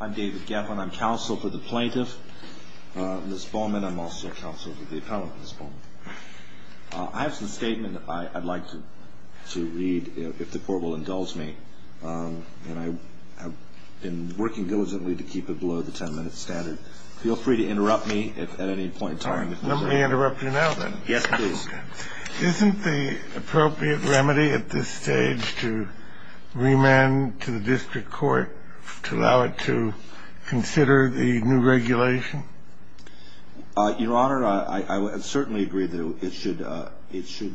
I'm David Geffin. I'm counsel for the plaintiff, Ms. Baughman. I'm also counsel for the appellant, Ms. Baughman. I have some statement I'd like to read, if the court will indulge me. And I have been working diligently to keep it below the ten-minute standard. Feel free to interrupt me at any point in time. Let me interrupt you now, then. Yes, please. Isn't the appropriate remedy at this stage to remand to the district court to allow it to consider the new regulation? Your Honor, I certainly agree that it should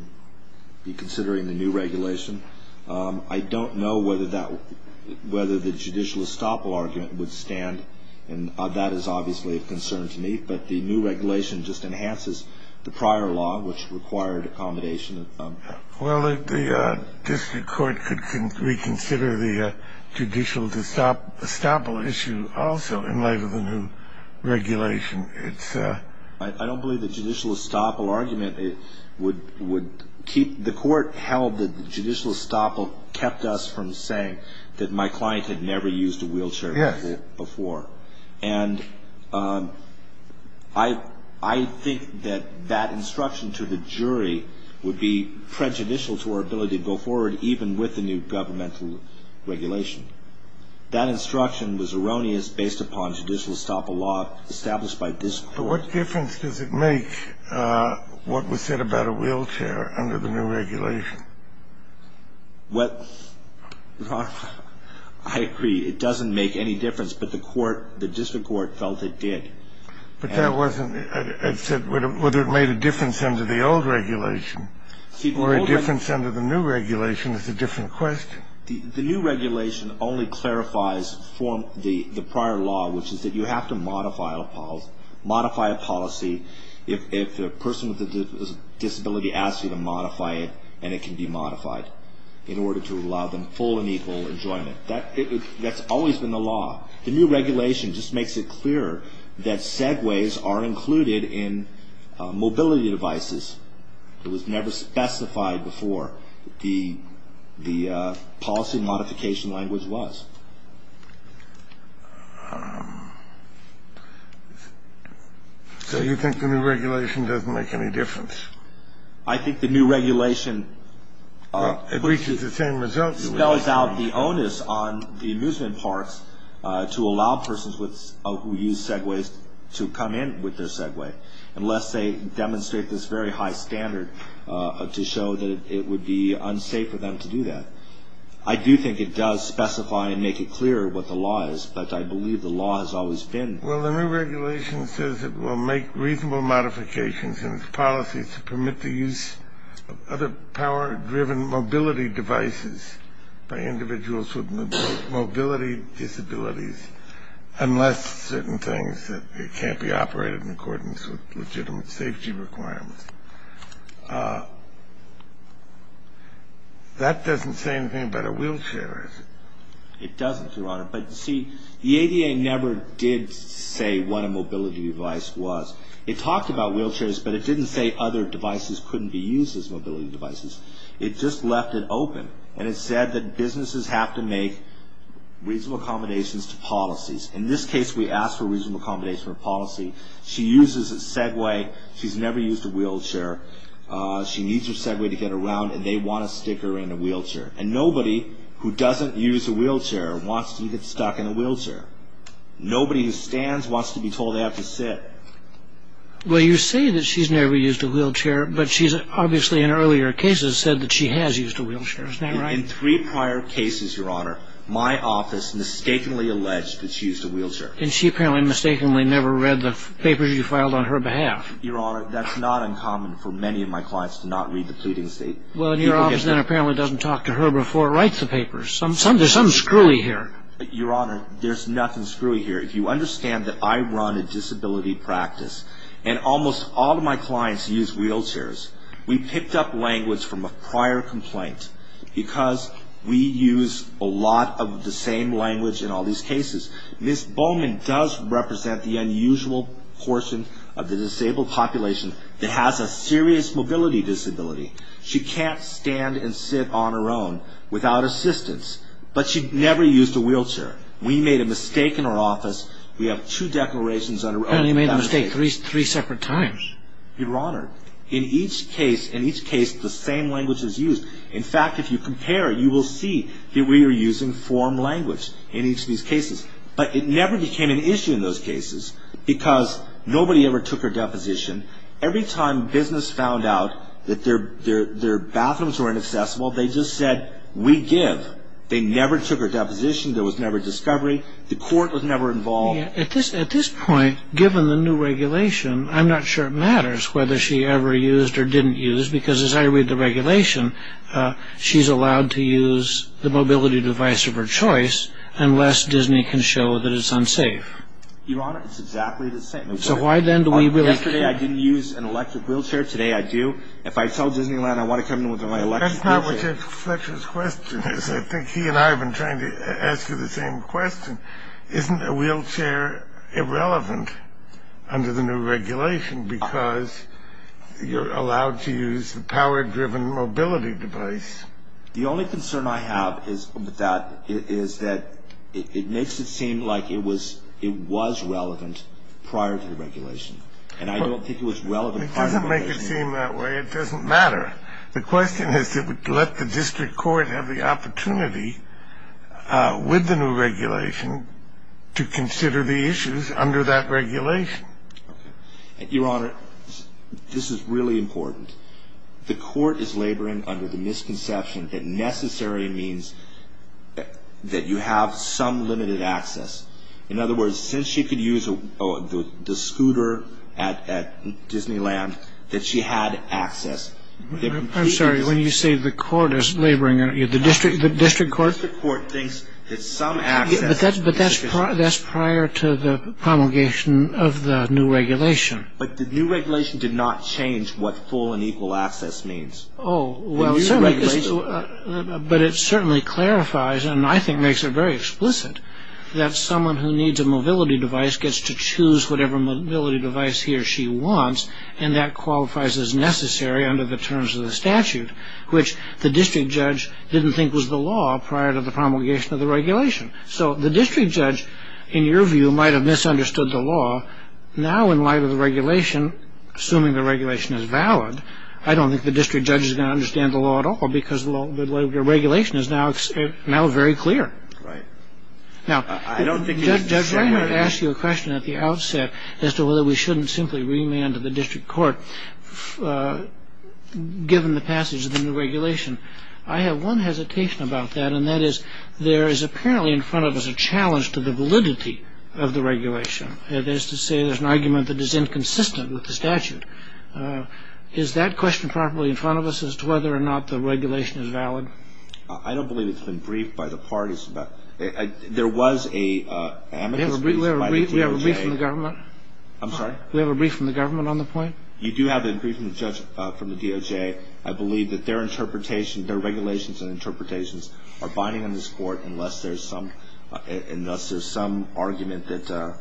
be considering the new regulation. I don't know whether the judicial estoppel argument would stand, and that is obviously a concern to me. But the new regulation just enhances the prior law, which required accommodation. Well, the district court could reconsider the judicial estoppel issue also, in light of the new regulation. I don't believe the judicial estoppel argument would keep – the court held that the judicial estoppel kept us from saying that my client had never used a wheelchair before. And I think that that instruction to the jury would be prejudicial to our ability to go forward, even with the new governmental regulation. That instruction was erroneous based upon judicial estoppel law established by this court. But what difference does it make what was said about a wheelchair under the new regulation? Well, Your Honor, I agree. It doesn't make any difference, but the court – the district court felt it did. But that wasn't – it said whether it made a difference under the old regulation or a difference under the new regulation is a different question. The new regulation only clarifies the prior law, which is that you have to modify a policy. If a person with a disability asks you to modify it, and it can be modified in order to allow them full and equal enjoyment. That's always been the law. The new regulation just makes it clearer that segues are included in mobility devices. It was never specified before what the policy modification language was. So you think the new regulation doesn't make any difference? I think the new regulation – Well, it reaches the same results. Spells out the onus on the amusement parks to allow persons with – who use segues to come in with their segue, unless they demonstrate this very high standard to show that it would be unsafe for them to do that. I do think it does specify and make it clearer what the law is, but I believe the law has always been – Well, the new regulation says it will make reasonable modifications in its policy to permit the use of other power-driven mobility devices by individuals with mobility disabilities, unless certain things that can't be operated in accordance with legitimate safety requirements. That doesn't say anything about a wheelchair, does it? It doesn't, Your Honor. But see, the ADA never did say what a mobility device was. It talked about wheelchairs, but it didn't say other devices couldn't be used as mobility devices. It just left it open, and it said that businesses have to make reasonable accommodations to policies. In this case, we asked for reasonable accommodations for policy. She uses a segue. She's never used a wheelchair. She needs her segue to get around, and they want to stick her in a wheelchair. And nobody who doesn't use a wheelchair wants to get stuck in a wheelchair. Nobody who stands wants to be told they have to sit. Well, you say that she's never used a wheelchair, but she's obviously in earlier cases said that she has used a wheelchair. Isn't that right? In three prior cases, Your Honor, my office mistakenly alleged that she used a wheelchair. And she apparently mistakenly never read the papers you filed on her behalf. Your Honor, that's not uncommon for many of my clients to not read the pleading state. Well, your office then apparently doesn't talk to her before it writes the papers. There's some screwy here. Your Honor, there's nothing screwy here. If you understand that I run a disability practice, and almost all of my clients use wheelchairs, we picked up language from a prior complaint because we use a lot of the same language in all these cases. Ms. Bowman does represent the unusual portion of the disabled population that has a serious mobility disability. She can't stand and sit on her own without assistance. But she never used a wheelchair. We made a mistake in our office. We have two declarations under oath. And you made a mistake three separate times. Your Honor, in each case, the same language is used. In fact, if you compare it, you will see that we are using form language in each of these cases. But it never became an issue in those cases because nobody ever took her deposition. Every time business found out that their bathrooms were inaccessible, they just said, we give. They never took her deposition. There was never a discovery. The court was never involved. At this point, given the new regulation, I'm not sure it matters whether she ever used or didn't use because as I read the regulation, she's allowed to use the mobility device of her choice unless Disney can show that it's unsafe. Your Honor, it's exactly the same. Yesterday, I didn't use an electric wheelchair. Today, I do. If I tell Disneyland I want to come in with my electric wheelchair. That's not what Jeff Fletcher's question is. I think he and I have been trying to ask you the same question. Isn't a wheelchair irrelevant under the new regulation because you're allowed to use the power-driven mobility device? The only concern I have with that is that it makes it seem like it was relevant prior to the regulation. And I don't think it was relevant prior to the regulation. It doesn't make it seem that way. It doesn't matter. The question is to let the district court have the opportunity with the new regulation to consider the issues under that regulation. Your Honor, this is really important. The court is laboring under the misconception that necessary means that you have some limited access. In other words, since she could use the scooter at Disneyland, that she had access. I'm sorry. When you say the court is laboring, the district court? The district court thinks that some access. But that's prior to the promulgation of the new regulation. But the new regulation did not change what full and equal access means. But it certainly clarifies, and I think makes it very explicit, that someone who needs a mobility device gets to choose whatever mobility device he or she wants, and that qualifies as necessary under the terms of the statute, which the district judge didn't think was the law prior to the promulgation of the regulation. So the district judge, in your view, might have misunderstood the law. Now, in light of the regulation, assuming the regulation is valid, I don't think the district judge is going to understand the law at all because the regulation is now very clear. Right. Now, Judge, I'm going to ask you a question at the outset as to whether we shouldn't simply remand to the district court given the passage of the new regulation. I have one hesitation about that, and that is there is apparently in front of us a challenge to the validity of the regulation. That is to say there's an argument that is inconsistent with the statute. Is that question probably in front of us as to whether or not the regulation is valid? I don't believe it's been briefed by the parties. There was an amicus brief by the DOJ. We have a brief from the government? I'm sorry? We have a brief from the government on the point? You do have a brief from the DOJ. I believe that their regulations and interpretations are binding on this court unless there's some argument that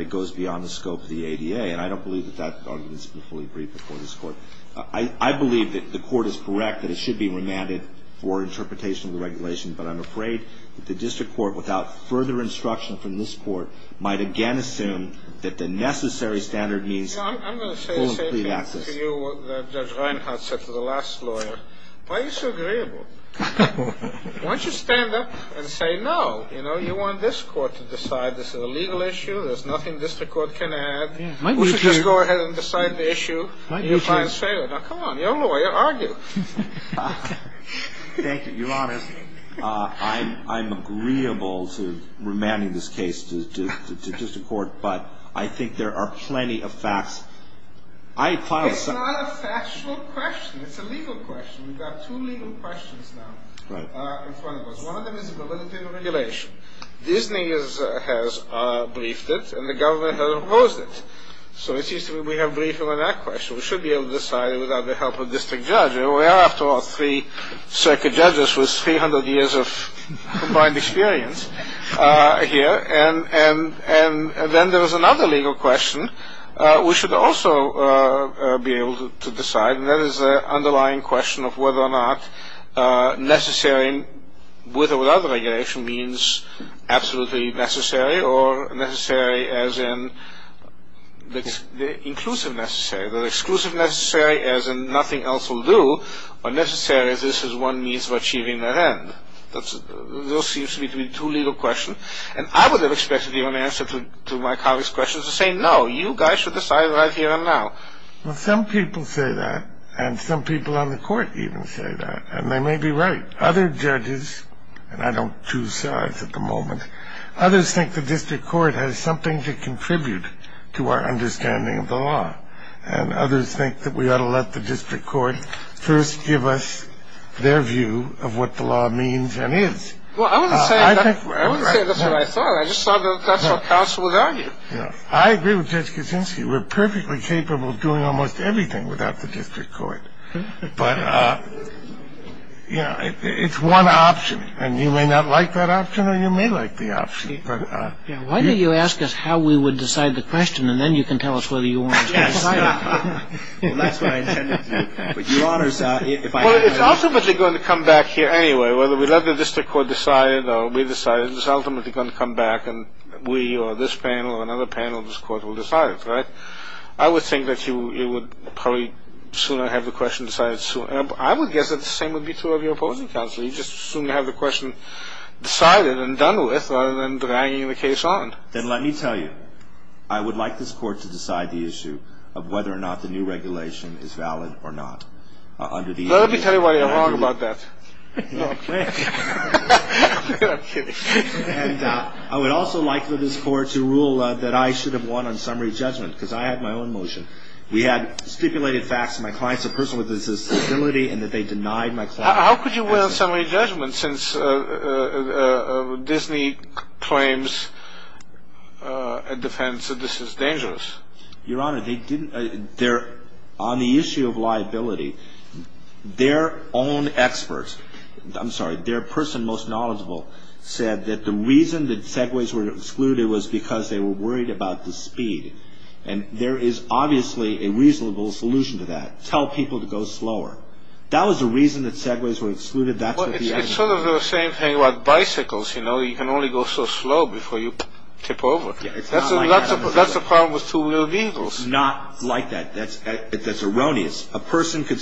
it goes beyond the scope of the ADA, and I don't believe that that argument has been fully briefed before this court. I believe that the court is correct that it should be remanded for interpretation of the regulation, but I'm afraid that the district court, without further instruction from this court, might again assume that the necessary standard means full and complete access. I'm going to say the same thing to you that Judge Reinhart said to the last lawyer. Why are you so agreeable? Why don't you stand up and say no? You know, you want this court to decide this is a legal issue. There's nothing the district court can add. Why don't you just go ahead and decide the issue? Now, come on. You're a lawyer. Argue. Thank you. Your Honor, I'm agreeable to remanding this case to the district court, but I think there are plenty of facts. It's not a factual question. It's a legal question. We've got two legal questions now in front of us. One of them is the validity of the regulation. Disney has briefed it, and the government has opposed it. So it seems to me we have briefed them on that question. We should be able to decide it without the help of a district judge. We are, after all, three circuit judges with 300 years of combined experience here. And then there's another legal question we should also be able to decide, and that is the underlying question of whether or not necessary with or without the regulation means absolutely necessary or necessary as in inclusive necessary, or exclusive necessary as in nothing else will do, or necessary as this is one means of achieving that end. Those seem to me to be two legal questions, and I would have expected the only answer to my colleague's question is to say, no, you guys should decide right here and now. Well, some people say that, and some people on the court even say that, and they may be right. Other judges, and I don't choose sides at the moment, others think the district court has something to contribute to our understanding of the law, and others think that we ought to let the district court first give us their view of what the law means and is. Well, I wouldn't say that's what I thought. I just thought that's what counsel would argue. I agree with Judge Kuczynski. We're perfectly capable of doing almost everything without the district court. But, you know, it's one option, and you may not like that option, or you may like the option. Why don't you ask us how we would decide the question, and then you can tell us whether you want us to decide it. Well, that's what I intended to do. Well, it's ultimately going to come back here anyway. Whether we let the district court decide it or we decide it, it's ultimately going to come back, and we or this panel or another panel of this court will decide it, right? I would think that you would probably sooner have the question decided sooner. I would guess that the same would be true of your opposing counsel. You'd just sooner have the question decided and done with rather than dragging the case on. Then let me tell you, I would like this court to decide the issue of whether or not the new regulation is valid or not. Let me tell you why you're wrong about that. I'm kidding. I would also like for this court to rule that I should have won on summary judgment because I had my own motion. We had stipulated facts that my client is a person with a disability and that they denied my client. How could you win on summary judgment since Disney claims in defense that this is dangerous? Your Honor, on the issue of liability, their own experts, I'm sorry, their person most knowledgeable, said that the reason that Segways were excluded was because they were worried about the speed, and there is obviously a reasonable solution to that. Tell people to go slower. That was the reason that Segways were excluded. It's sort of the same thing about bicycles, you know. You can only go so slow before you tip over. That's the problem with two-wheel vehicles. It's not like that. That's erroneous. A person could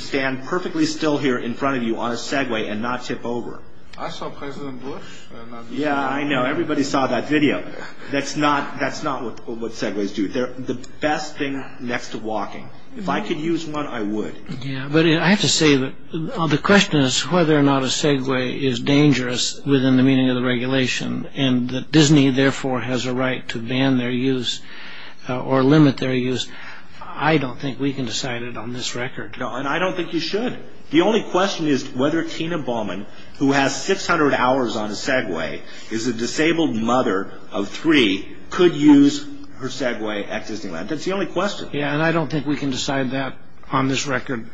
stand perfectly still here in front of you on a Segway and not tip over. I saw President Bush. Yeah, I know. Everybody saw that video. That's not what Segways do. They're the best thing next to walking. If I could use one, I would. Yeah, but I have to say that the question is whether or not a Segway is dangerous within the meaning of the regulation, and that Disney, therefore, has a right to ban their use or limit their use. I don't think we can decide it on this record. No, and I don't think you should. The only question is whether Tina Bowman, who has 600 hours on a Segway, is a disabled mother of three, could use her Segway at Disneyland. That's the only question. Yeah, and I don't think we can decide that on this record.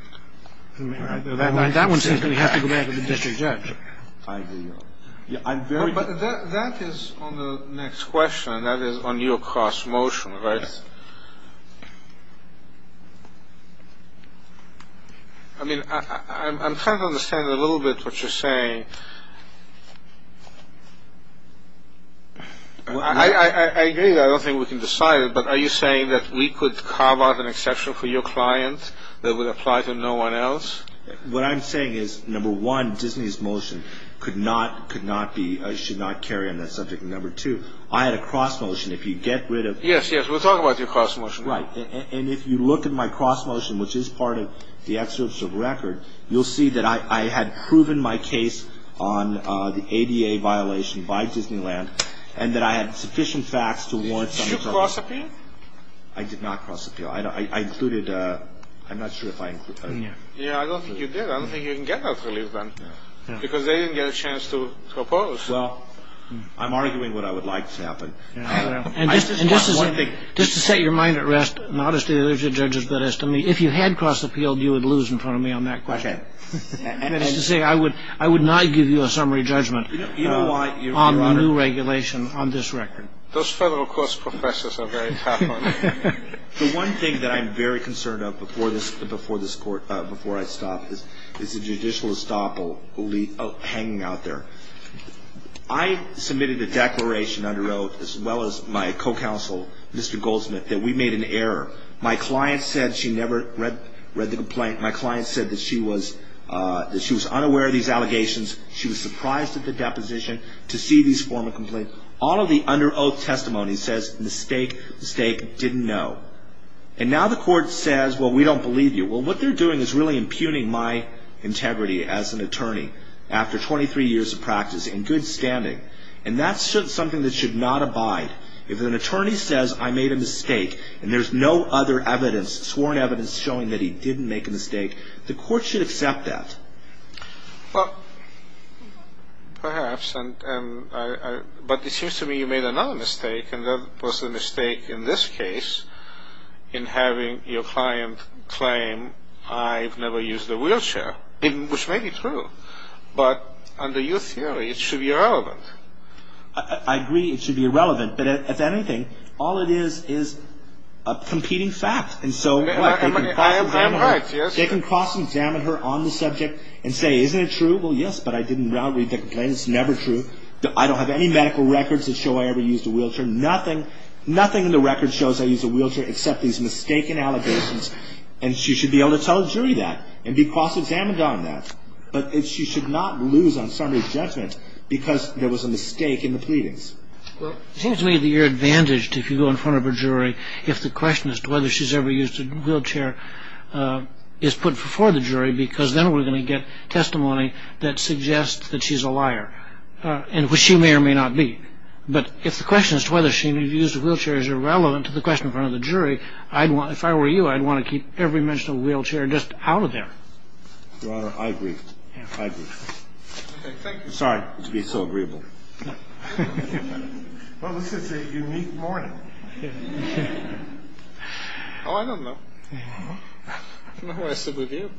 That one seems to have to go back to the district judge. But that is on the next question, and that is on your cross-motion, right? I mean, I'm trying to understand a little bit what you're saying. I agree that I don't think we can decide it, but are you saying that we could carve out an exception for your client that would apply to no one else? What I'm saying is, number one, Disney's motion should not carry on that subject. And number two, I had a cross-motion. If you get rid of— Yes, yes, we'll talk about your cross-motion. Right. And if you look at my cross-motion, which is part of the excerpt of the record, you'll see that I had proven my case on the ADA violation by Disneyland, and that I had sufficient facts to warrant— Did you cross-appeal? I did not cross-appeal. I included—I'm not sure if I included— Yeah, I don't think you did. I don't think you can get that relief then, because they didn't get a chance to oppose. Well, I'm arguing what I would like to happen. And just to set your mind at rest, not as to the other two judges, but as to me, if you had cross-appealed, you would lose in front of me on that question. Okay. That is to say, I would not give you a summary judgment on the new regulation on this record. Those federal courts professors are very tough on you. The one thing that I'm very concerned of before this court—before I stop is the judicial estoppel hanging out there. I submitted a declaration under oath, as well as my co-counsel, Mr. Goldsmith, that we made an error. My client said she never read the complaint. My client said that she was unaware of these allegations. She was surprised at the deposition to see this form of complaint. All of the under oath testimony says, mistake, mistake, didn't know. And now the court says, well, we don't believe you. Well, what they're doing is really impugning my integrity as an attorney after 23 years of practice and good standing. And that's something that should not abide. If an attorney says, I made a mistake, and there's no other evidence, sworn evidence showing that he didn't make a mistake, the court should accept that. Well, perhaps. But it seems to me you made another mistake, and that was the mistake in this case in having your client claim, I've never used a wheelchair, which may be true. But under your theory, it should be irrelevant. I agree it should be irrelevant. But if anything, all it is is a competing fact. I am right, yes. They can cross-examine her on the subject and say, isn't it true? Well, yes, but I didn't read the complaint. It's never true. I don't have any medical records that show I ever used a wheelchair. Nothing in the records shows I used a wheelchair except these mistaken allegations. And she should be able to tell a jury that and be cross-examined on that. But she should not lose on summary judgment because there was a mistake in the pleadings. Well, it seems to me that you're advantaged if you go in front of a jury if the question as to whether she's ever used a wheelchair is put before the jury because then we're going to get testimony that suggests that she's a liar, which she may or may not be. But if the question as to whether she used a wheelchair is irrelevant to the question in front of the jury, if I were you, I'd want to keep every mention of a wheelchair just out of there. Your Honor, I agree. I agree. Sorry to be so agreeable. Well, this is a unique morning. Oh, I don't know. I don't know what I said with you.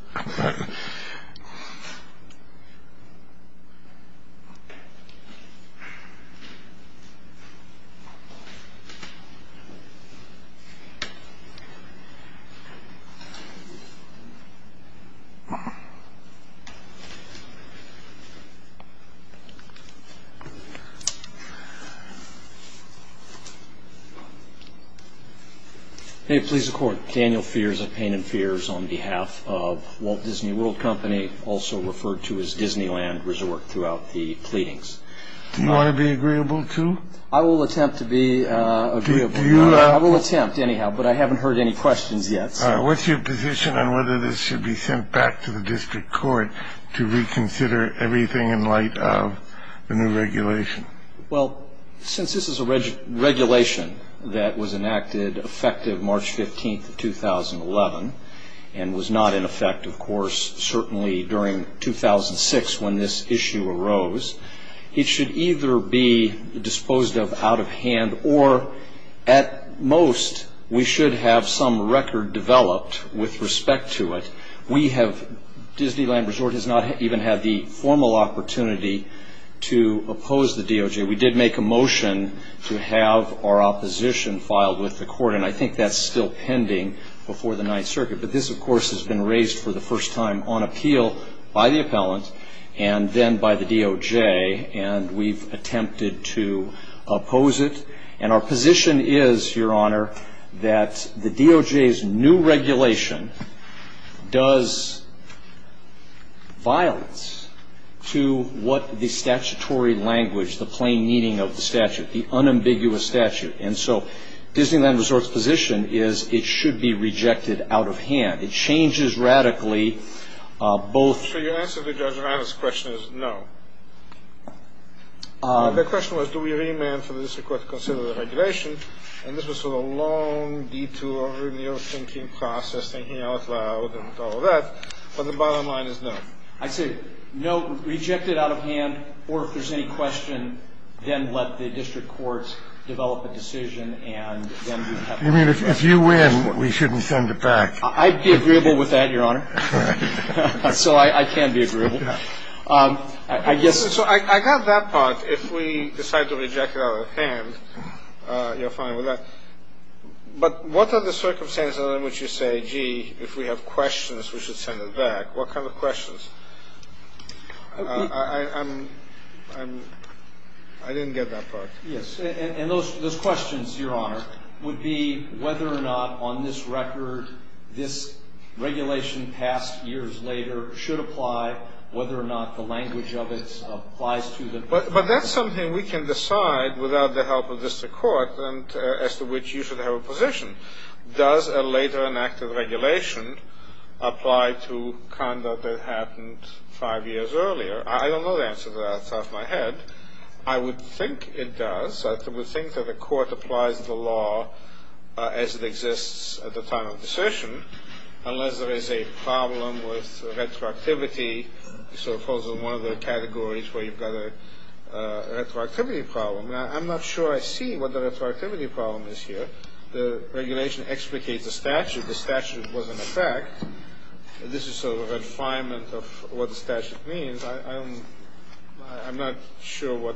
May it please the Court. Daniel Fears of Payne and Fears on behalf of Walt Disney World Company, also referred to as Disneyland, resorted throughout the pleadings. Do you want to be agreeable too? I will attempt to be agreeable, Your Honor. I will attempt anyhow, but I haven't heard any questions yet. What's your position on whether this should be sent back to the district court to reconsider everything in light of the new regulation? Well, since this is a regulation that was enacted effective March 15th of 2011 and was not in effect, of course, certainly during 2006 when this issue arose, it should either be disposed of out of hand or at most we should have some record developed with respect to it. Disneyland Resort has not even had the formal opportunity to oppose the DOJ. We did make a motion to have our opposition filed with the court, and I think that's still pending before the Ninth Circuit. But this, of course, has been raised for the first time on appeal by the appellant and then by the DOJ, and we've attempted to oppose it. And our position is, Your Honor, that the DOJ's new regulation does violence to what the statutory language, the plain meaning of the statute, the unambiguous statute. And so Disneyland Resort's position is it should be rejected out of hand. It changes radically both. So your answer to Judge Reynolds' question is no. The question was do we remand for the district court to consider the regulation, and this was sort of a long detour in the old thinking process, thinking out loud and all of that, but the bottom line is no. I say no, reject it out of hand, or if there's any question, then let the district courts develop a decision and then we have a process. You mean if you win, we shouldn't send it back? I'd be agreeable with that, Your Honor. So I can be agreeable. So I got that part. If we decide to reject it out of hand, you're fine with that. But what are the circumstances in which you say, gee, if we have questions, we should send it back? What kind of questions? I didn't get that part. Yes, and those questions, Your Honor, would be whether or not on this record this regulation passed years later should apply, whether or not the language of it applies to the court. But that's something we can decide without the help of district court, as to which you should have a position. Does a later enacted regulation apply to conduct that happened five years earlier? I don't know the answer to that off the top of my head. I would think it does. I would think that the court applies the law as it exists at the time of assertion, unless there is a problem with retroactivity. So it falls in one of the categories where you've got a retroactivity problem. Now, I'm not sure I see what the retroactivity problem is here. The regulation explicates the statute. The statute was in effect. This is sort of a refinement of what the statute means. I'm not sure what.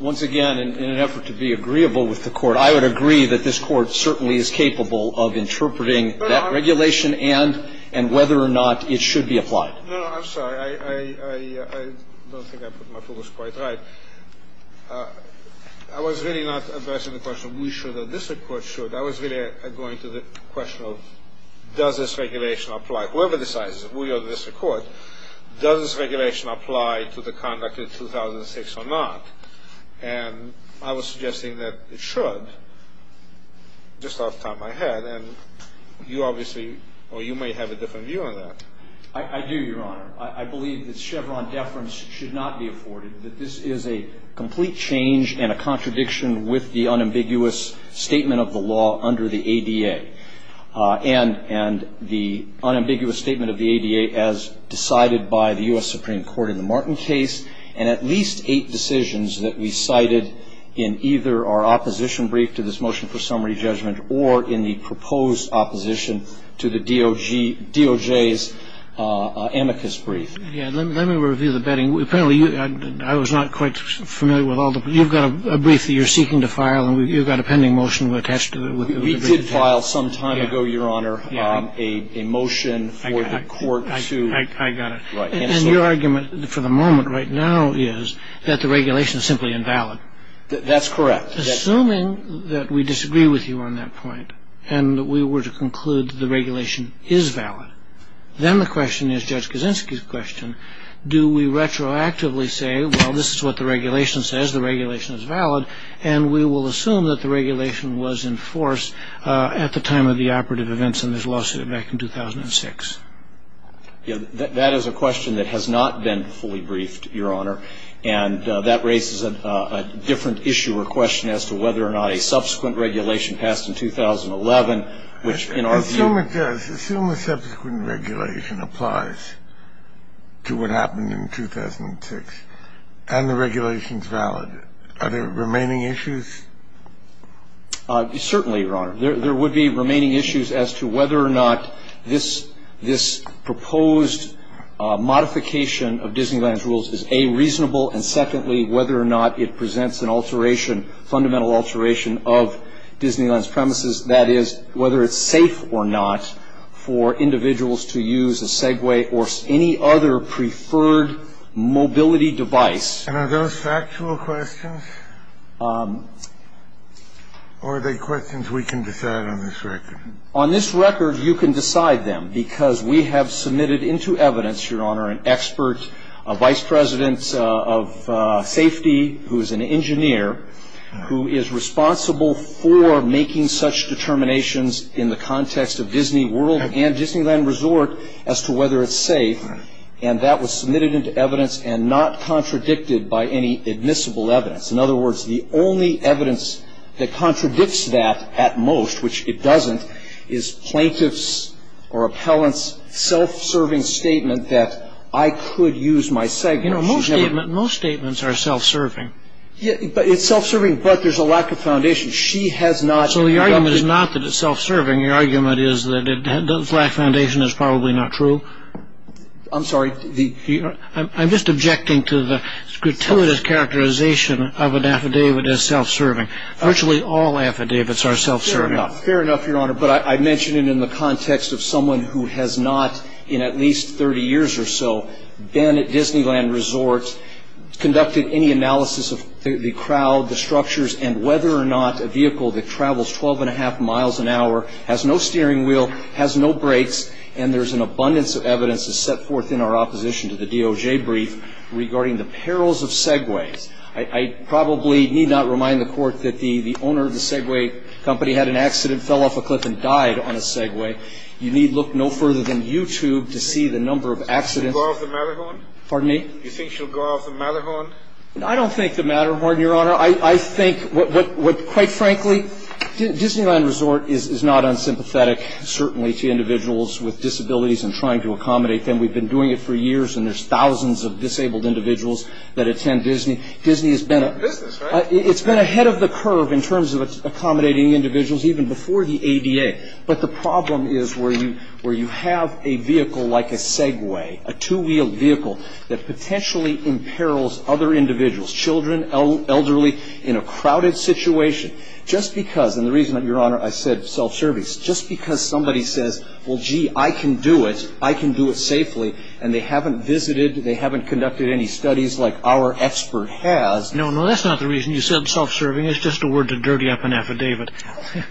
Once again, in an effort to be agreeable with the court, I would agree that this court certainly is capable of interpreting that regulation and whether or not it should be applied. No, I'm sorry. I don't think I put my focus quite right. I was really not addressing the question of we should or district court should. I was really going to the question of does this regulation apply. Whoever decides, we or district court, does this regulation apply to the conduct of 2006 or not? And I was suggesting that it should just off the top of my head. And you obviously or you may have a different view on that. I do, Your Honor. I believe that Chevron deference should not be afforded, that this is a complete change and a contradiction with the unambiguous statement of the law under the ADA. And the unambiguous statement of the ADA, as decided by the U.S. Supreme Court in the Martin case, is a complete contradiction with the unambiguous statement of the law in the D.O.J. case, and at least eight decisions that we cited in either our opposition brief to this motion for summary judgment or in the proposed opposition to the D.O.J.'s amicus brief. Yes. Let me review the betting. Apparently, I was not quite familiar with all the – you've got a brief that you're seeking to file, and you've got a pending motion attached to it. We did file some time ago, Your Honor, a motion for the court to – I got it. Right. And your argument for the moment right now is that the regulation is simply invalid. That's correct. Assuming that we disagree with you on that point, and that we were to conclude that the regulation is valid, then the question is Judge Kaczynski's question, do we retroactively say, well, this is what the regulation says, the regulation is valid, and we will assume that the regulation was enforced at the time of the operative events in this lawsuit back in 2006? That is a question that has not been fully briefed, Your Honor, and that raises a different issue or question as to whether or not a subsequent regulation passed in 2011, which, in our view – Assume it does. Assume a subsequent regulation applies to what happened in 2006, and the regulation is valid. Are there remaining issues? Certainly, Your Honor. There would be remaining issues as to whether or not this proposed modification of Disneyland's rules is, A, reasonable, and, secondly, whether or not it presents an alteration, fundamental alteration of Disneyland's premises, that is, whether it's safe or not for individuals to use a Segway or any other preferred mobility device. And are those factual questions, or are they questions we can decide on this record? On this record, you can decide them, because we have submitted into evidence, Your Honor, an expert, a vice president of safety who is an engineer, who is responsible for making such determinations in the context of Disney World and Disneyland Resort as to whether it's safe, and that was submitted into evidence and not contradicted by any admissible evidence. In other words, the only evidence that contradicts that at most, which it doesn't, is plaintiff's or appellant's self-serving statement that I could use my Segway. You know, most statements are self-serving. It's self-serving, but there's a lack of foundation. She has not – So the argument is not that it's self-serving. The argument is that the lack of foundation is probably not true. I'm sorry. I'm just objecting to the gratuitous characterization of an affidavit as self-serving. Virtually all affidavits are self-serving. Fair enough, Your Honor, but I mention it in the context of someone who has not, in at least 30 years or so, been at Disneyland Resort, conducted any analysis of the crowd, the structures, and whether or not a vehicle that travels 12 1⁄2 miles an hour has no steering wheel, has no brakes, and there's an abundance of evidence that's set forth in our opposition to the DOJ brief regarding the perils of Segways. I probably need not remind the Court that the owner of the Segway company had an accident, fell off a cliff and died on a Segway. You need look no further than YouTube to see the number of accidents. Do you think she'll go off the Matterhorn? Pardon me? Do you think she'll go off the Matterhorn? I don't think the Matterhorn, Your Honor. I think what, quite frankly, Disneyland Resort is not unsympathetic, certainly, to individuals with disabilities and trying to accommodate them. We've been doing it for years, and there's thousands of disabled individuals that attend Disney. Disney has been a business, right? It's been ahead of the curve in terms of accommodating individuals, even before the ADA. But the problem is where you have a vehicle like a Segway, a two-wheeled vehicle that potentially imperils other individuals, children, elderly, in a crowded situation. Just because, and the reason, Your Honor, I said self-service, just because somebody says, well, gee, I can do it, I can do it safely, and they haven't visited, they haven't conducted any studies like our expert has. No, no, that's not the reason you said self-serving. It's just a word to dirty up an affidavit.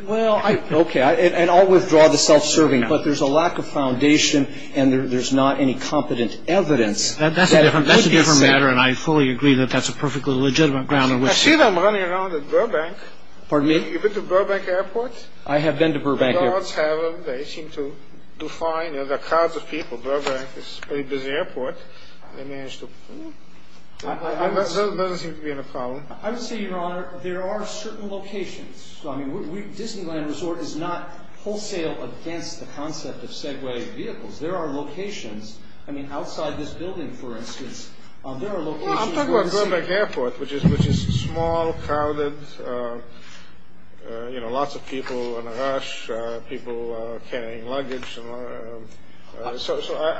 Well, okay, and I'll withdraw the self-serving, but there's a lack of foundation and there's not any competent evidence. That's a different matter, and I fully agree that that's a perfectly legitimate ground on which to- I see them running around at Burbank. Pardon me? Have you been to Burbank Airport? I have been to Burbank Airport. The guards have them. They seem to do fine. There are crowds of people. Burbank is a very busy airport. They manage to- There doesn't seem to be any problem. I would say, Your Honor, there are certain locations. I mean, Disneyland Resort is not wholesale against the concept of Segway vehicles. There are locations. I mean, outside this building, for instance, there are locations- Yeah, I'm talking about Burbank Airport, which is small, crowded, you know, lots of people in a rush, people carrying luggage. So I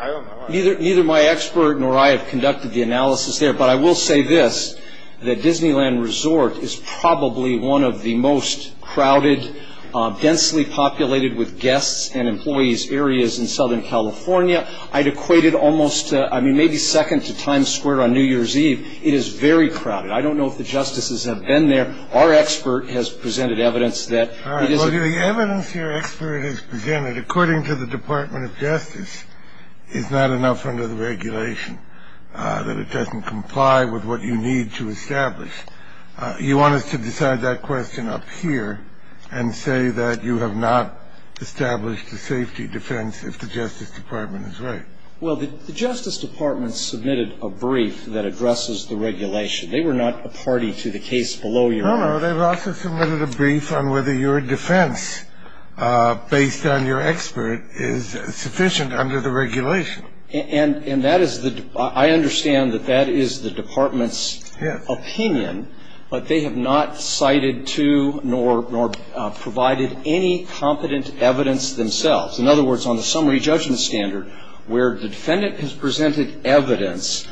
don't know. Neither my expert nor I have conducted the analysis there, but I will say this, that Disneyland Resort is probably one of the most crowded, densely populated with guests and employees areas in Southern California. I'd equated almost, I mean, maybe second to Times Square on New Year's Eve. It is very crowded. I don't know if the justices have been there. Our expert has presented evidence that it is- All right. Well, the evidence your expert has presented, according to the Department of Justice, is not enough under the regulation, that it doesn't comply with what you need to establish. You want us to decide that question up here and say that you have not established a safety defense if the Justice Department is right. Well, the Justice Department submitted a brief that addresses the regulation. They were not a party to the case below your- No, no. They've also submitted a brief on whether your defense, based on your expert, is sufficient under the regulation. And that is the- I understand that that is the Department's opinion, but they have not cited to nor provided any competent evidence themselves. In other words, on the summary judgment standard, where the defendant has presented evidence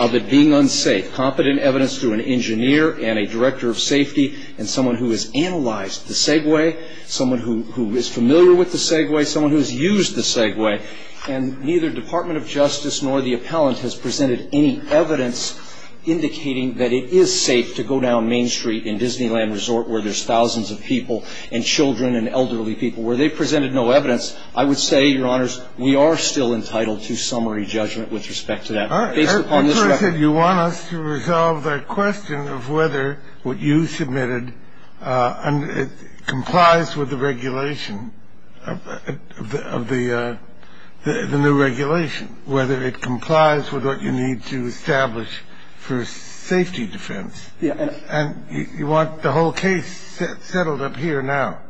of it being unsafe, competent evidence to an engineer and a director of safety and someone who has analyzed the Segway, someone who is familiar with the Segway, someone who has used the Segway, and neither Department of Justice nor the appellant has presented any evidence indicating that it is safe to go down Main Street in Disneyland Resort, where there's thousands of people and children and elderly people, where they presented no evidence, I would say, Your Honors, we are still entitled to summary judgment with respect to that. All right. Based upon this record- I thought you said you want us to resolve the question of whether what you submitted complies with the regulation of the new regulation, whether it complies with what you need to establish for safety defense. Yeah. And you want the whole case settled up here now.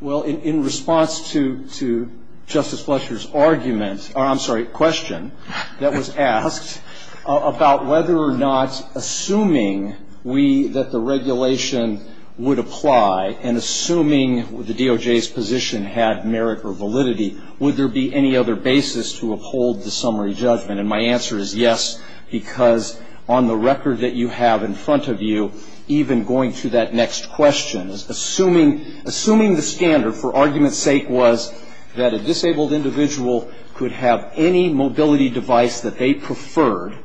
Well, in response to Justice Fletcher's argument or, I'm sorry, question that was asked about whether or not assuming we, that the regulation would apply and assuming the DOJ's position had merit or validity, would there be any other basis to uphold the summary judgment? And my answer is yes, because on the record that you have in front of you, even going to that next question, assuming the standard for argument's sake was that a disabled individual could have any mobility device that they preferred,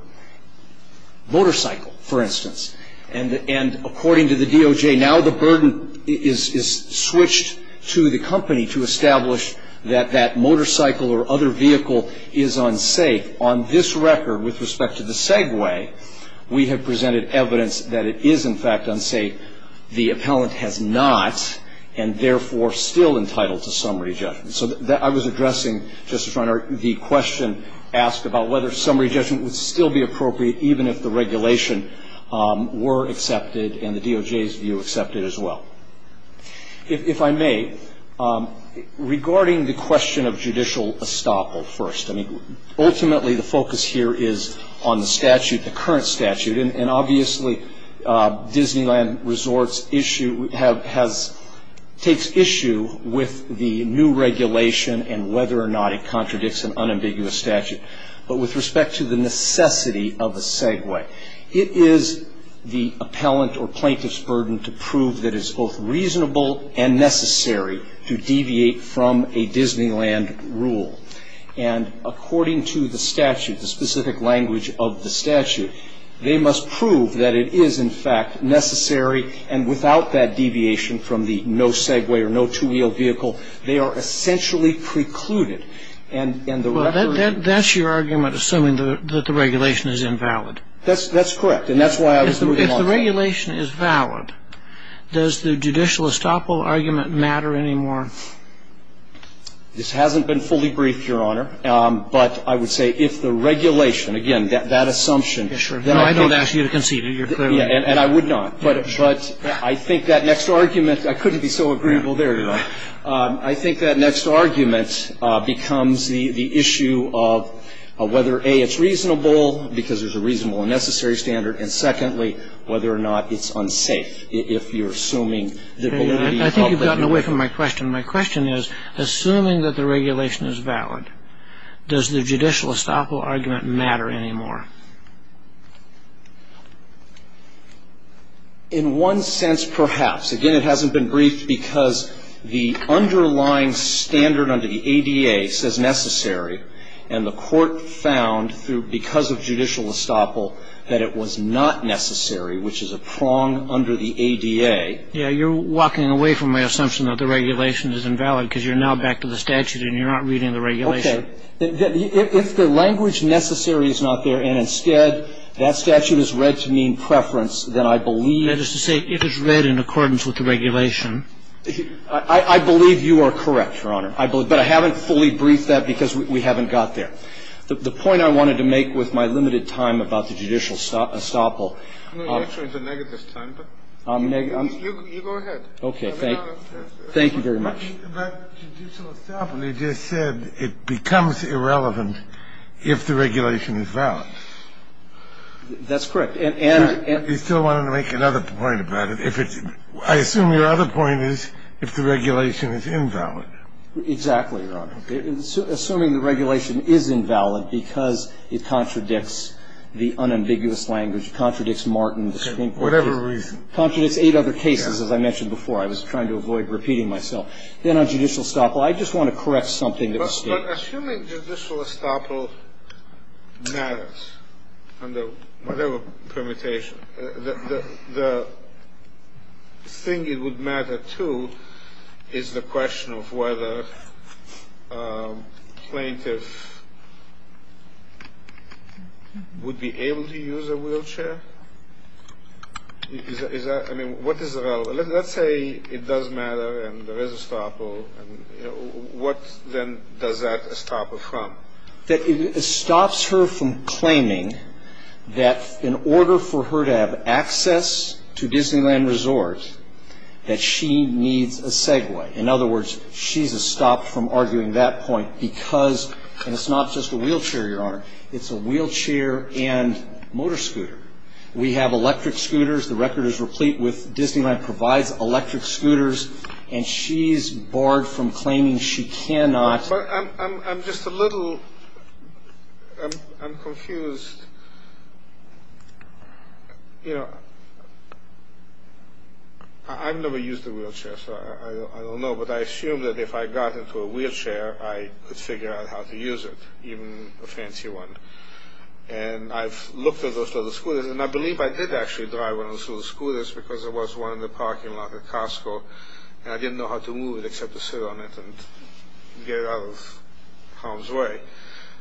motorcycle, for instance, and according to the DOJ now the burden is switched to the company to establish that that motorcycle or other vehicle is unsafe. On this record, with respect to the segue, we have presented evidence that it is, in fact, unsafe. The appellant has not and, therefore, still entitled to summary judgment. So I was addressing, Justice Reiner, the question asked about whether summary judgment would still be appropriate even if the regulation were accepted and the DOJ's view accepted as well. If I may, regarding the question of judicial estoppel first, I mean, ultimately the focus here is on the statute, the current statute, and obviously Disneyland Resorts takes issue with the new regulation and whether or not it contradicts an unambiguous statute. But with respect to the necessity of a segue, it is the appellant or plaintiff's burden to prove that it's both reasonable and necessary to deviate from a Disneyland rule. And according to the statute, the specific language of the statute, they must prove that it is, in fact, necessary and without that deviation from the no segue or no two-wheel vehicle, they are essentially precluded. And the record... Well, that's your argument, assuming that the regulation is invalid. That's correct, and that's why I was moving on. If the regulation is valid, does the judicial estoppel argument matter anymore? This hasn't been fully briefed, Your Honor. But I would say if the regulation, again, that assumption... Yes, sure. No, I don't ask you to concede it. You're clearly... And I would not. But I think that next argument, I couldn't be so agreeable there, Your Honor. I think that next argument becomes the issue of whether, A, it's reasonable because there's a reasonable and necessary standard, and secondly, whether or not it's unsafe if you're assuming the validity... I think you've gotten away from my question. My question is, assuming that the regulation is valid, does the judicial estoppel argument matter anymore? In one sense, perhaps. Again, it hasn't been briefed because the underlying standard under the ADA says necessary, and the Court found, because of judicial estoppel, that it was not necessary, which is a prong under the ADA. Yeah. You're walking away from my assumption that the regulation is invalid because you're now back to the statute and you're not reading the regulation. Okay. If the language necessary is not there and instead that statute is read to mean preference, then I believe... That is to say it is read in accordance with the regulation. I believe you are correct, Your Honor. I believe. But I haven't fully briefed that because we haven't got there. The point I wanted to make with my limited time about the judicial estoppel... You go ahead. Okay. Thank you. Thank you very much. But judicial estoppel, you just said it becomes irrelevant if the regulation is valid. That's correct. And... You still wanted to make another point about it. I assume your other point is if the regulation is invalid. Exactly, Your Honor. Assuming the regulation is invalid because it contradicts the unambiguous language, contradicts Martin, the Supreme Court case. Okay. Whatever reason. Contradicts eight other cases, as I mentioned before. I was trying to avoid repeating myself. Then on judicial estoppel, I just want to correct something that was stated. But assuming judicial estoppel matters under whatever permutation, the thing it would matter too is the question of whether plaintiff would be able to use a wheelchair. I mean, what is relevant? Let's say it does matter and there is estoppel. What then does that estoppel from? That it stops her from claiming that in order for her to have access to Disneyland Resort, that she needs a Segway. In other words, she's estopped from arguing that point because, and it's not just a wheelchair, Your Honor, it's a wheelchair and motor scooter. We have electric scooters. The record is replete with Disneyland provides electric scooters. And she's barred from claiming she cannot. I'm just a little, I'm confused. You know, I've never used a wheelchair, so I don't know. But I assume that if I got into a wheelchair, I could figure out how to use it, even a fancy one. And I've looked at those little scooters. And I believe I did actually drive one of those little scooters because there was one in the parking lot at Costco. And I didn't know how to move it except to sit on it and get it out of harm's way.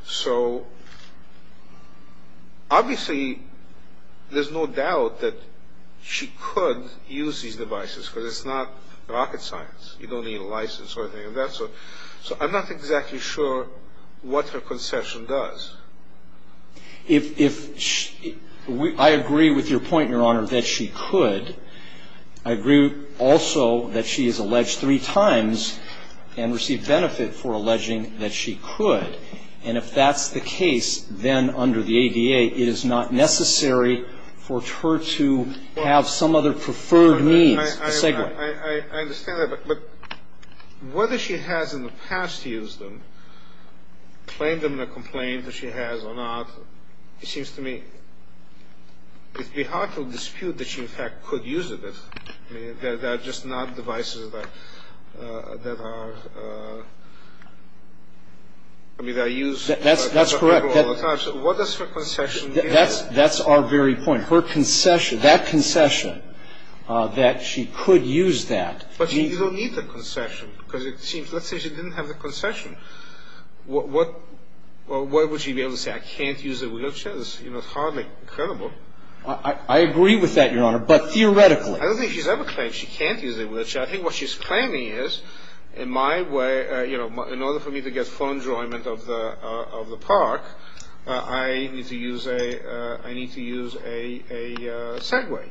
So obviously there's no doubt that she could use these devices because it's not rocket science. You don't need a license or anything like that. So I'm not exactly sure what her concession does. I agree with your point, Your Honor, that she could. I agree also that she is alleged three times and received benefit for alleging that she could. And if that's the case, then under the ADA, it is not necessary for her to have some other preferred means. I understand that. But whether she has in the past used them, claimed them in a complaint that she has or not, it seems to me it would be hard to dispute that she, in fact, could use it. I mean, they're just not devices that are used all the time. That's correct. So what does her concession do? That's our very point. Her concession, that concession that she could use that. But you don't need the concession because it seems, let's say she didn't have the concession. What would she be able to say? I can't use a wheelchair? It's hardly credible. I agree with that, Your Honor, but theoretically. I don't think she's ever claimed she can't use a wheelchair. I think what she's claiming is, in my way, in order for me to get full enjoyment of the park, I need to use a Segway.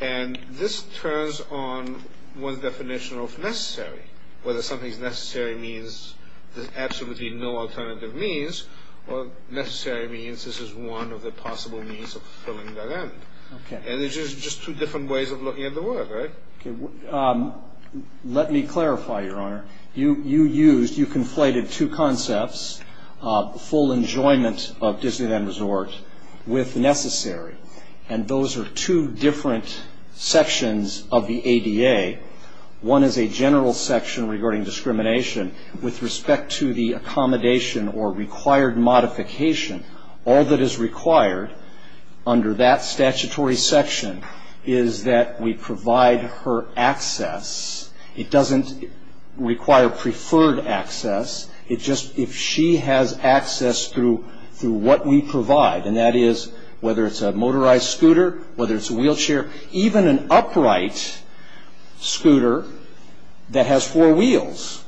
And this turns on one's definition of necessary. Whether something's necessary means there's absolutely no alternative means, or necessary means this is one of the possible means of fulfilling that end. And there's just two different ways of looking at the word, right? Let me clarify, Your Honor. You used, you conflated two concepts, full enjoyment of Disneyland Resort with necessary. And those are two different sections of the ADA. One is a general section regarding discrimination with respect to the accommodation or required modification. All that is required under that statutory section is that we provide her access. It doesn't require preferred access. It just, if she has access through what we provide, and that is whether it's a motorized scooter, whether it's a wheelchair, even an upright scooter that has four wheels,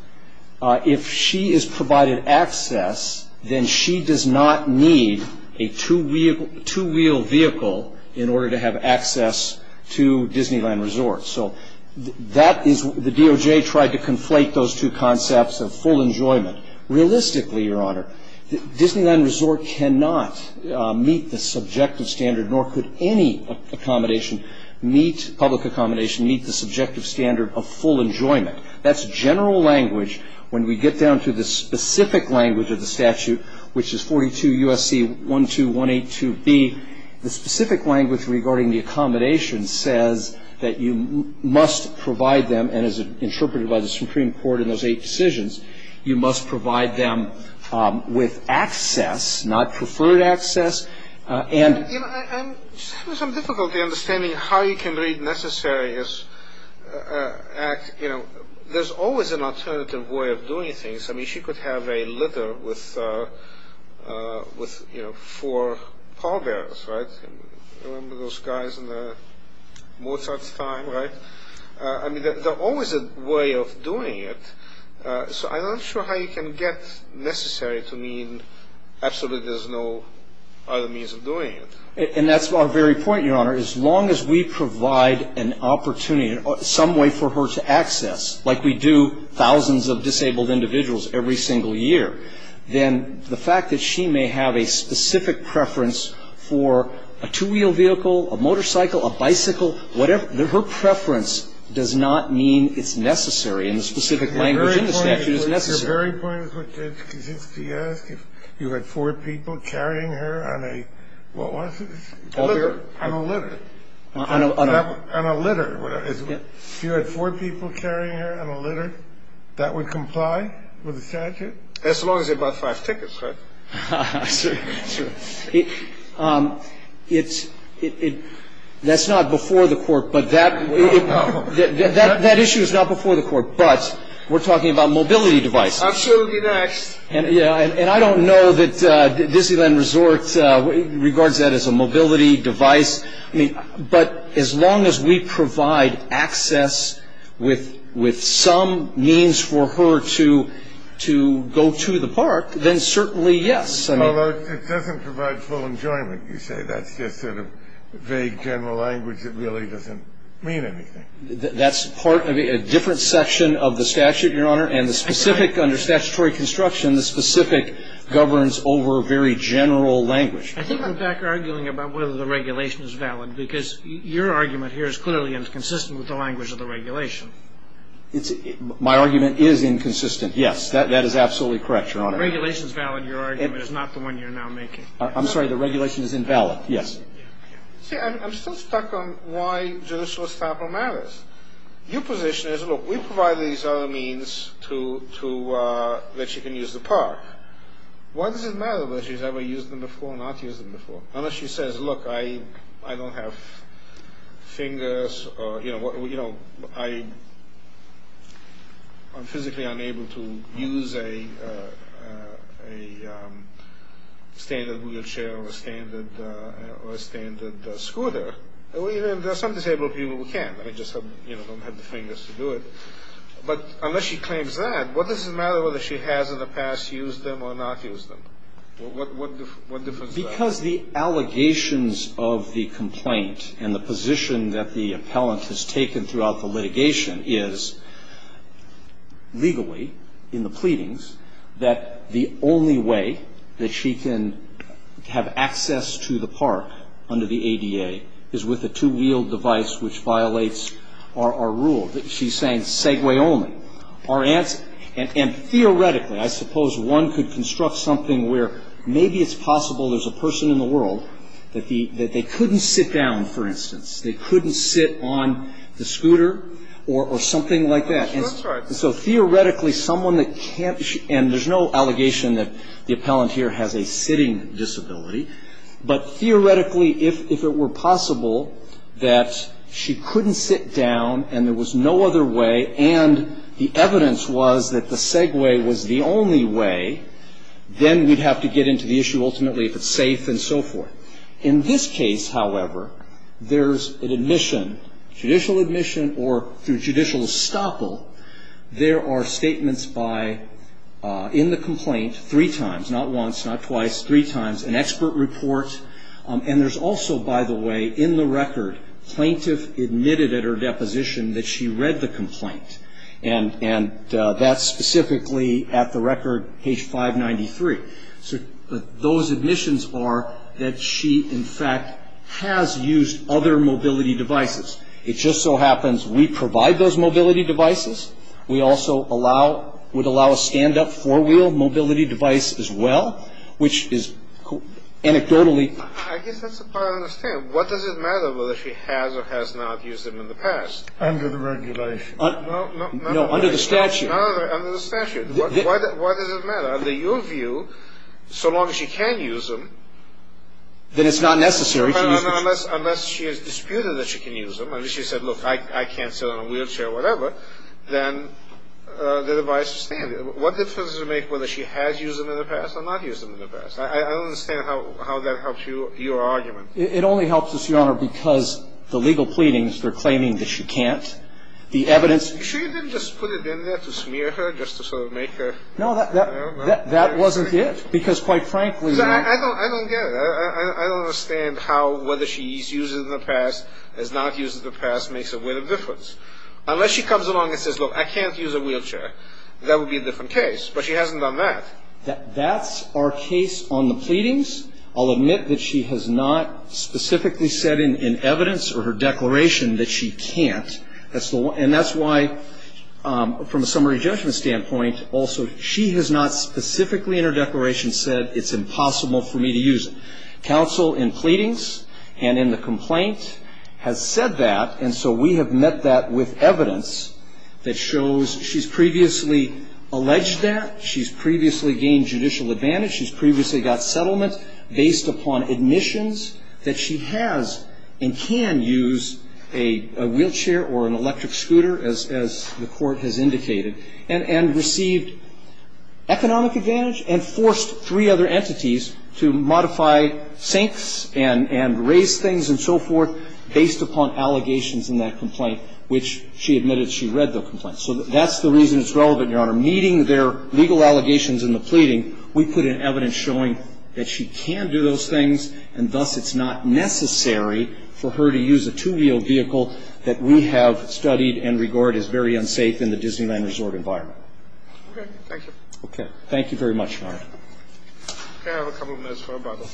if she is provided access, then she does not need a two-wheel vehicle in order to have access to Disneyland Resort. So that is, the DOJ tried to conflate those two concepts of full enjoyment. Realistically, Your Honor, Disneyland Resort cannot meet the subjective standard, nor could any accommodation meet, public accommodation meet the subjective standard of full enjoyment. That's general language. When we get down to the specific language of the statute, which is 42 U.S.C. 12182b, the specific language regarding the accommodation says that you must provide them, and as interpreted by the Supreme Court in those eight decisions, you must provide them with access, not preferred access. And you know, I'm having some difficulty understanding how you can read necessary as act. You know, there's always an alternative way of doing things. I mean, she could have a litter with, you know, four pallbearers, right? Remember those guys in the Mozart's time, right? I mean, there's always a way of doing it. So I'm not sure how you can get necessary to mean absolutely there's no other means of doing it. And that's our very point, Your Honor. As long as we provide an opportunity, some way for her to access, like we do thousands of disabled individuals every single year, then the fact that she may have a specific preference for a two-wheel vehicle, a motorcycle, a bicycle, whatever, her preference does not mean it's necessary, and the specific language in the statute is necessary. Your very point is to ask if you had four people carrying her on a, what was it? A litter. On a litter. On a litter. If you had four people carrying her on a litter, that would comply with the statute? As long as they bought five tickets, right? Sure. That's not before the court, but that issue is not before the court, but we're talking about mobility devices. Absolutely next. And I don't know that Disneyland Resort regards that as a mobility device, but as long as we provide access with some means for her to go to the park, then certainly yes. Although it doesn't provide full enjoyment, you say. That's just sort of vague general language that really doesn't mean anything. That's part of a different section of the statute, Your Honor, and the specific under statutory construction, the specific governs over very general language. I think I'm back arguing about whether the regulation is valid, because your argument here is clearly inconsistent with the language of the regulation. My argument is inconsistent, yes. That is absolutely correct, Your Honor. If the regulation is valid, your argument is not the one you're now making. I'm sorry, the regulation is invalid, yes. See, I'm still stuck on why judicial establishment matters. Your position is, look, we provide these other means that she can use the park. Why does it matter whether she's ever used them before or not used them before? Unless she says, look, I don't have fingers or, you know, I'm physically unable to use a standard wheelchair or a standard scooter. There are some disabled people who can. They just don't have the fingers to do it. But unless she claims that, what does it matter whether she has in the past used them or not used them? What difference does that make? Because the allegations of the complaint and the position that the appellant has taken throughout the litigation is, legally, in the pleadings, that the only way that she can have access to the park under the ADA is with a two-wheeled device which violates our rule. She's saying segue only. And theoretically, I suppose one could construct something where maybe it's possible there's a person in the world that they couldn't sit down, for instance. They couldn't sit on the scooter or something like that. And so theoretically, someone that can't, and there's no allegation that the appellant here has a sitting disability. But theoretically, if it were possible that she couldn't sit down and there was no other way and the evidence was that the segue was the only way, then we'd have to get into the issue ultimately if it's safe and so forth. In this case, however, there's an admission, judicial admission or through judicial estoppel. There are statements by, in the complaint, three times, not once, not twice, three times, an expert report. And there's also, by the way, in the record, plaintiff admitted at her deposition that she read the complaint. And that's specifically at the record page 593. So those admissions are that she, in fact, has used other mobility devices. It just so happens we provide those mobility devices. We also allow, would allow a stand-up four-wheel mobility device as well, which is anecdotally. I guess that's the part I understand. What does it matter whether she has or has not used them in the past? Under the regulation. No, under the statute. Under the statute. Why does it matter? Under your view, so long as she can use them. Then it's not necessary. Unless she has disputed that she can use them. If she said, look, I can't sit on a wheelchair or whatever, then the device is standard. What difference does it make whether she has used them in the past or not used them in the past? I don't understand how that helps you, your argument. It only helps us, Your Honor, because the legal pleadings, they're claiming that she can't. The evidence. You sure you didn't just put it in there to smear her, just to sort of make her. No, that wasn't it. Because, quite frankly. I don't get it. I don't understand how whether she's used it in the past, has not used it in the past, makes a weight of difference. Unless she comes along and says, look, I can't use a wheelchair, that would be a different case. But she hasn't done that. That's our case on the pleadings. I'll admit that she has not specifically said in evidence or her declaration that she can't. And that's why, from a summary judgment standpoint, also, she has not specifically in her declaration said it's impossible for me to use it. Counsel in pleadings and in the complaint has said that. And so we have met that with evidence that shows she's previously alleged that. She's previously gained judicial advantage. She's previously got settlement based upon admissions that she has and can use a wheelchair or an electric scooter, as the Court has indicated, and received economic advantage and forced three other entities to modify sinks and raise things and so forth based upon allegations in that complaint, which she admitted she read the complaint. So that's the reason it's relevant, Your Honor. Meeting their legal allegations in the pleading, we put in evidence showing that she can do those things and thus it's not necessary for her to use a two-wheel vehicle that we have studied and regard as very unsafe in the Disneyland Resort environment. Okay. Thank you. Okay. Thank you very much, Your Honor. Can I have a couple of minutes for a Bible?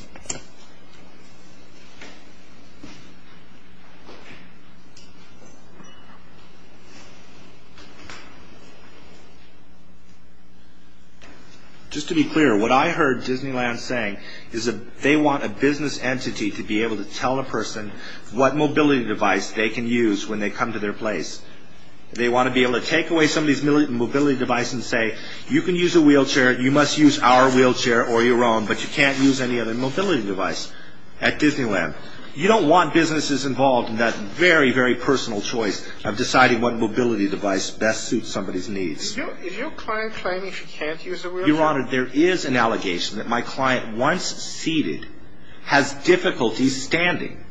Just to be clear, what I heard Disneyland saying is that they want a business entity to be able to tell a person what mobility device they can use when they come to their place. They want to be able to take away somebody's mobility device and say, you can use a wheelchair, you must use our wheelchair or your own, but you can't use any other mobility device at Disneyland. You don't want businesses involved in that very, very personal choice of deciding what mobility device best suits somebody's needs. Is your client claiming she can't use a wheelchair? Your Honor, there is an allegation that my client, once seated, has difficulty standing,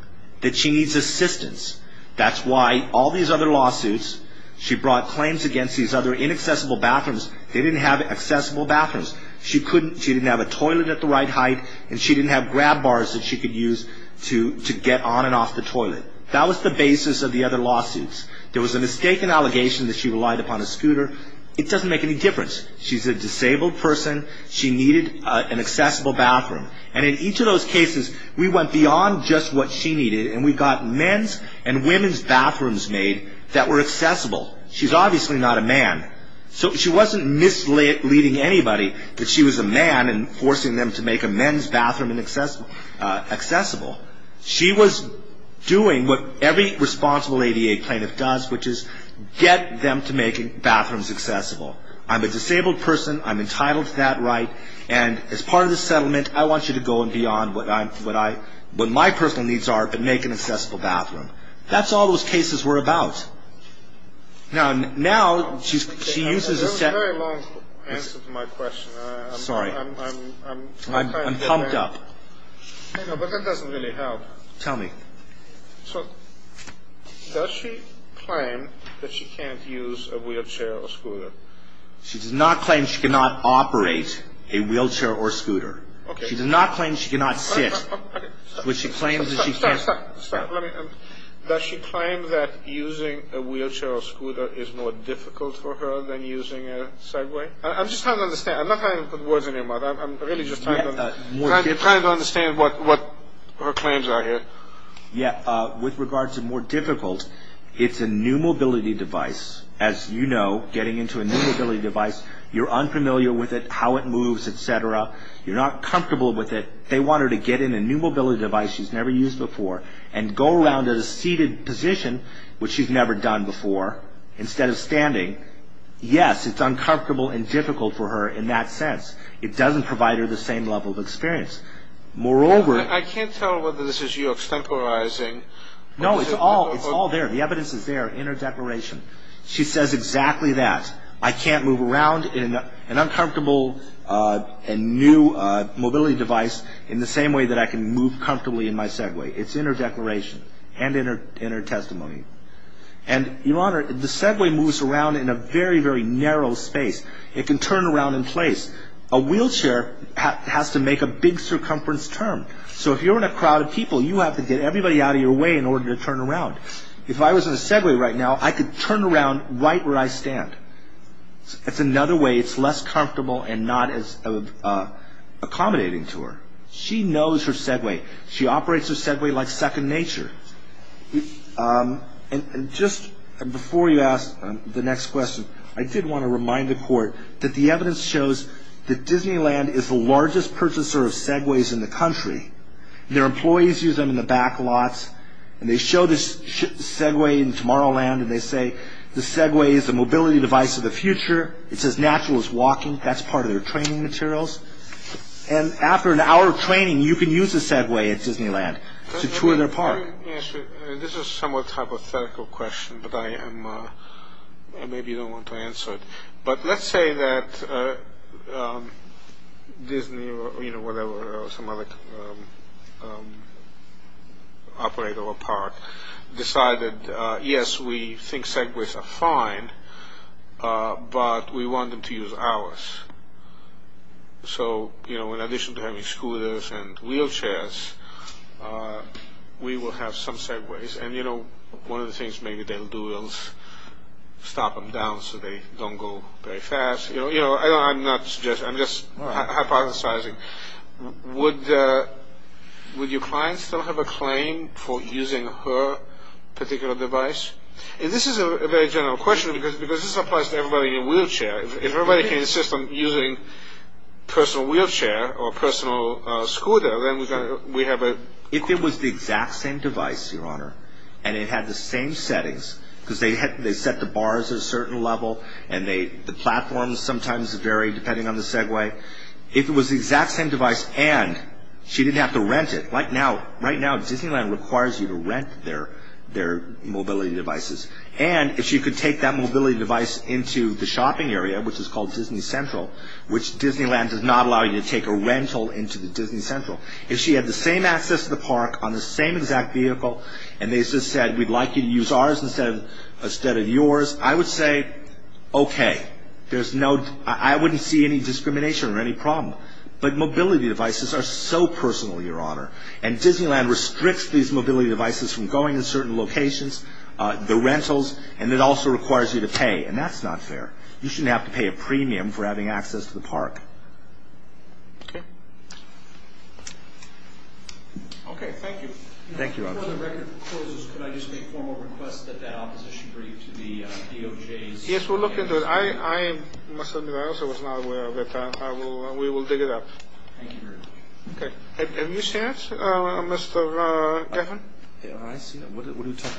that she needs assistance. That's why all these other lawsuits she brought claims against these other inaccessible bathrooms They didn't have accessible bathrooms. She didn't have a toilet at the right height, and she didn't have grab bars that she could use to get on and off the toilet. That was the basis of the other lawsuits. There was a mistaken allegation that she relied upon a scooter. It doesn't make any difference. She's a disabled person. She needed an accessible bathroom. And in each of those cases, we went beyond just what she needed, and we got men's and women's bathrooms made that were accessible. She's obviously not a man. So she wasn't misleading anybody that she was a man and forcing them to make a men's bathroom accessible. She was doing what every responsible ADA plaintiff does, which is get them to make bathrooms accessible. I'm a disabled person. I'm entitled to that right, and as part of the settlement, I want you to go beyond what my personal needs are but make an accessible bathroom. That's all those cases were about. Now, she uses a separate – That's a very long answer to my question. Sorry. I'm pumped up. I know, but that doesn't really help. Tell me. So does she claim that she can't use a wheelchair or scooter? She does not claim she cannot operate a wheelchair or scooter. Okay. She does not claim she cannot sit. Okay. But she claims that she can't – Stop, stop. Does she claim that using a wheelchair or scooter is more difficult for her than using a Segway? I'm just trying to understand. I'm not trying to put words in your mouth. I'm really just trying to understand what her claims are here. Yeah. With regards to more difficult, it's a new mobility device. As you know, getting into a new mobility device, you're unfamiliar with it, how it moves, et cetera. You're not comfortable with it. They want her to get in a new mobility device she's never used before and go around in a seated position, which she's never done before, instead of standing. Yes, it's uncomfortable and difficult for her in that sense. It doesn't provide her the same level of experience. Moreover – I can't tell whether this is you extemporizing – No, it's all there. The evidence is there in her declaration. She says exactly that. I can't move around in an uncomfortable and new mobility device in the same way that I can move comfortably in my Segway. It's in her declaration and in her testimony. And, Your Honor, the Segway moves around in a very, very narrow space. It can turn around in place. A wheelchair has to make a big circumference turn. So if you're in a crowd of people, you have to get everybody out of your way in order to turn around. If I was in a Segway right now, I could turn around right where I stand. It's another way. It's less comfortable and not as accommodating to her. She knows her Segway. She operates her Segway like second nature. And just before you ask the next question, I did want to remind the Court that the evidence shows that Disneyland is the largest purchaser of Segways in the country. Their employees use them in the back lots. And they show the Segway in Tomorrowland, and they say the Segway is the mobility device of the future. It's as natural as walking. That's part of their training materials. And after an hour of training, you can use a Segway at Disneyland to tour their park. This is a somewhat hypothetical question, but maybe you don't want to answer it. But let's say that Disney or some other operator or park decided, yes, we think Segways are fine, but we want them to use ours. So in addition to having scooters and wheelchairs, we will have some Segways. And, you know, one of the things maybe they'll do is stop them down so they don't go very fast. You know, I'm not suggesting. I'm just hypothesizing. Would your client still have a claim for using her particular device? And this is a very general question because this applies to everybody in a wheelchair. If everybody can insist on using a personal wheelchair or a personal scooter, If it was the exact same device, Your Honor, and it had the same settings, because they set the bars at a certain level and the platforms sometimes vary depending on the Segway, if it was the exact same device and she didn't have to rent it, right now Disneyland requires you to rent their mobility devices. And if she could take that mobility device into the shopping area, which is called Disney Central, which Disneyland does not allow you to take a rental into the Disney Central, if she had the same access to the park on the same exact vehicle and they just said, we'd like you to use ours instead of yours, I would say, okay. I wouldn't see any discrimination or any problem. But mobility devices are so personal, Your Honor, and Disneyland restricts these mobility devices from going to certain locations, the rentals, and it also requires you to pay, and that's not fair. You shouldn't have to pay a premium for having access to the park. Okay. Okay, thank you. Thank you, Your Honor. Before the record closes, could I just make a formal request that that opposition brief to the DOJ's? Yes, we'll look into it. I must admit, I also was not aware of it, but we will dig it up. Thank you very much. Okay. Have you seen it, Mr. Geffen? I've seen it. What are you talking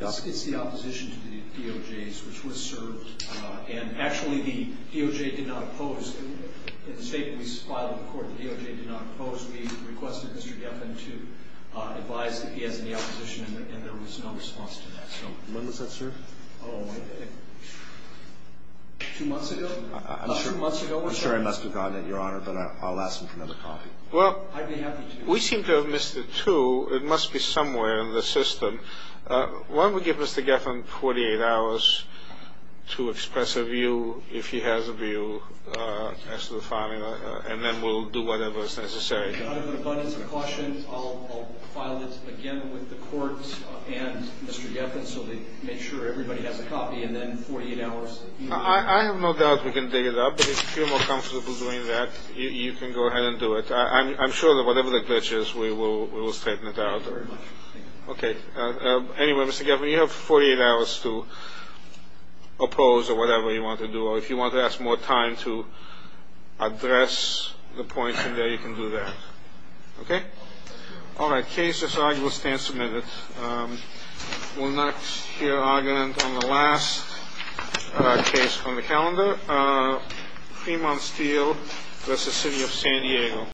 about? It's the opposition to the DOJ's, which was served, and actually the DOJ did not oppose. In the statement we filed in court, the DOJ did not oppose. We requested Mr. Geffen to advise that he has any opposition, and there was no response to that. When was that served? Oh, two months ago. I'm sure I must have gotten it, Your Honor, but I'll ask him for another copy. Well, we seem to have missed it, too. It must be somewhere in the system. Why don't we give Mr. Geffen 48 hours to express a view, if he has a view, as to the filing, and then we'll do whatever is necessary. Out of an abundance of caution, I'll file it again with the courts and Mr. Geffen so they make sure everybody has a copy, and then 48 hours. I have no doubt we can dig it up. If you feel more comfortable doing that, you can go ahead and do it. I'm sure that whatever the glitch is, we will straighten it out. Thank you very much. Okay. Anyway, Mr. Geffen, you have 48 hours to oppose or whatever you want to do, or if you want to ask more time to address the points in there, you can do that. Okay? All right. Case is argued. We'll stand submitted. We'll next hear argument on the last case from the calendar, Fremont Steel v. City of San Diego.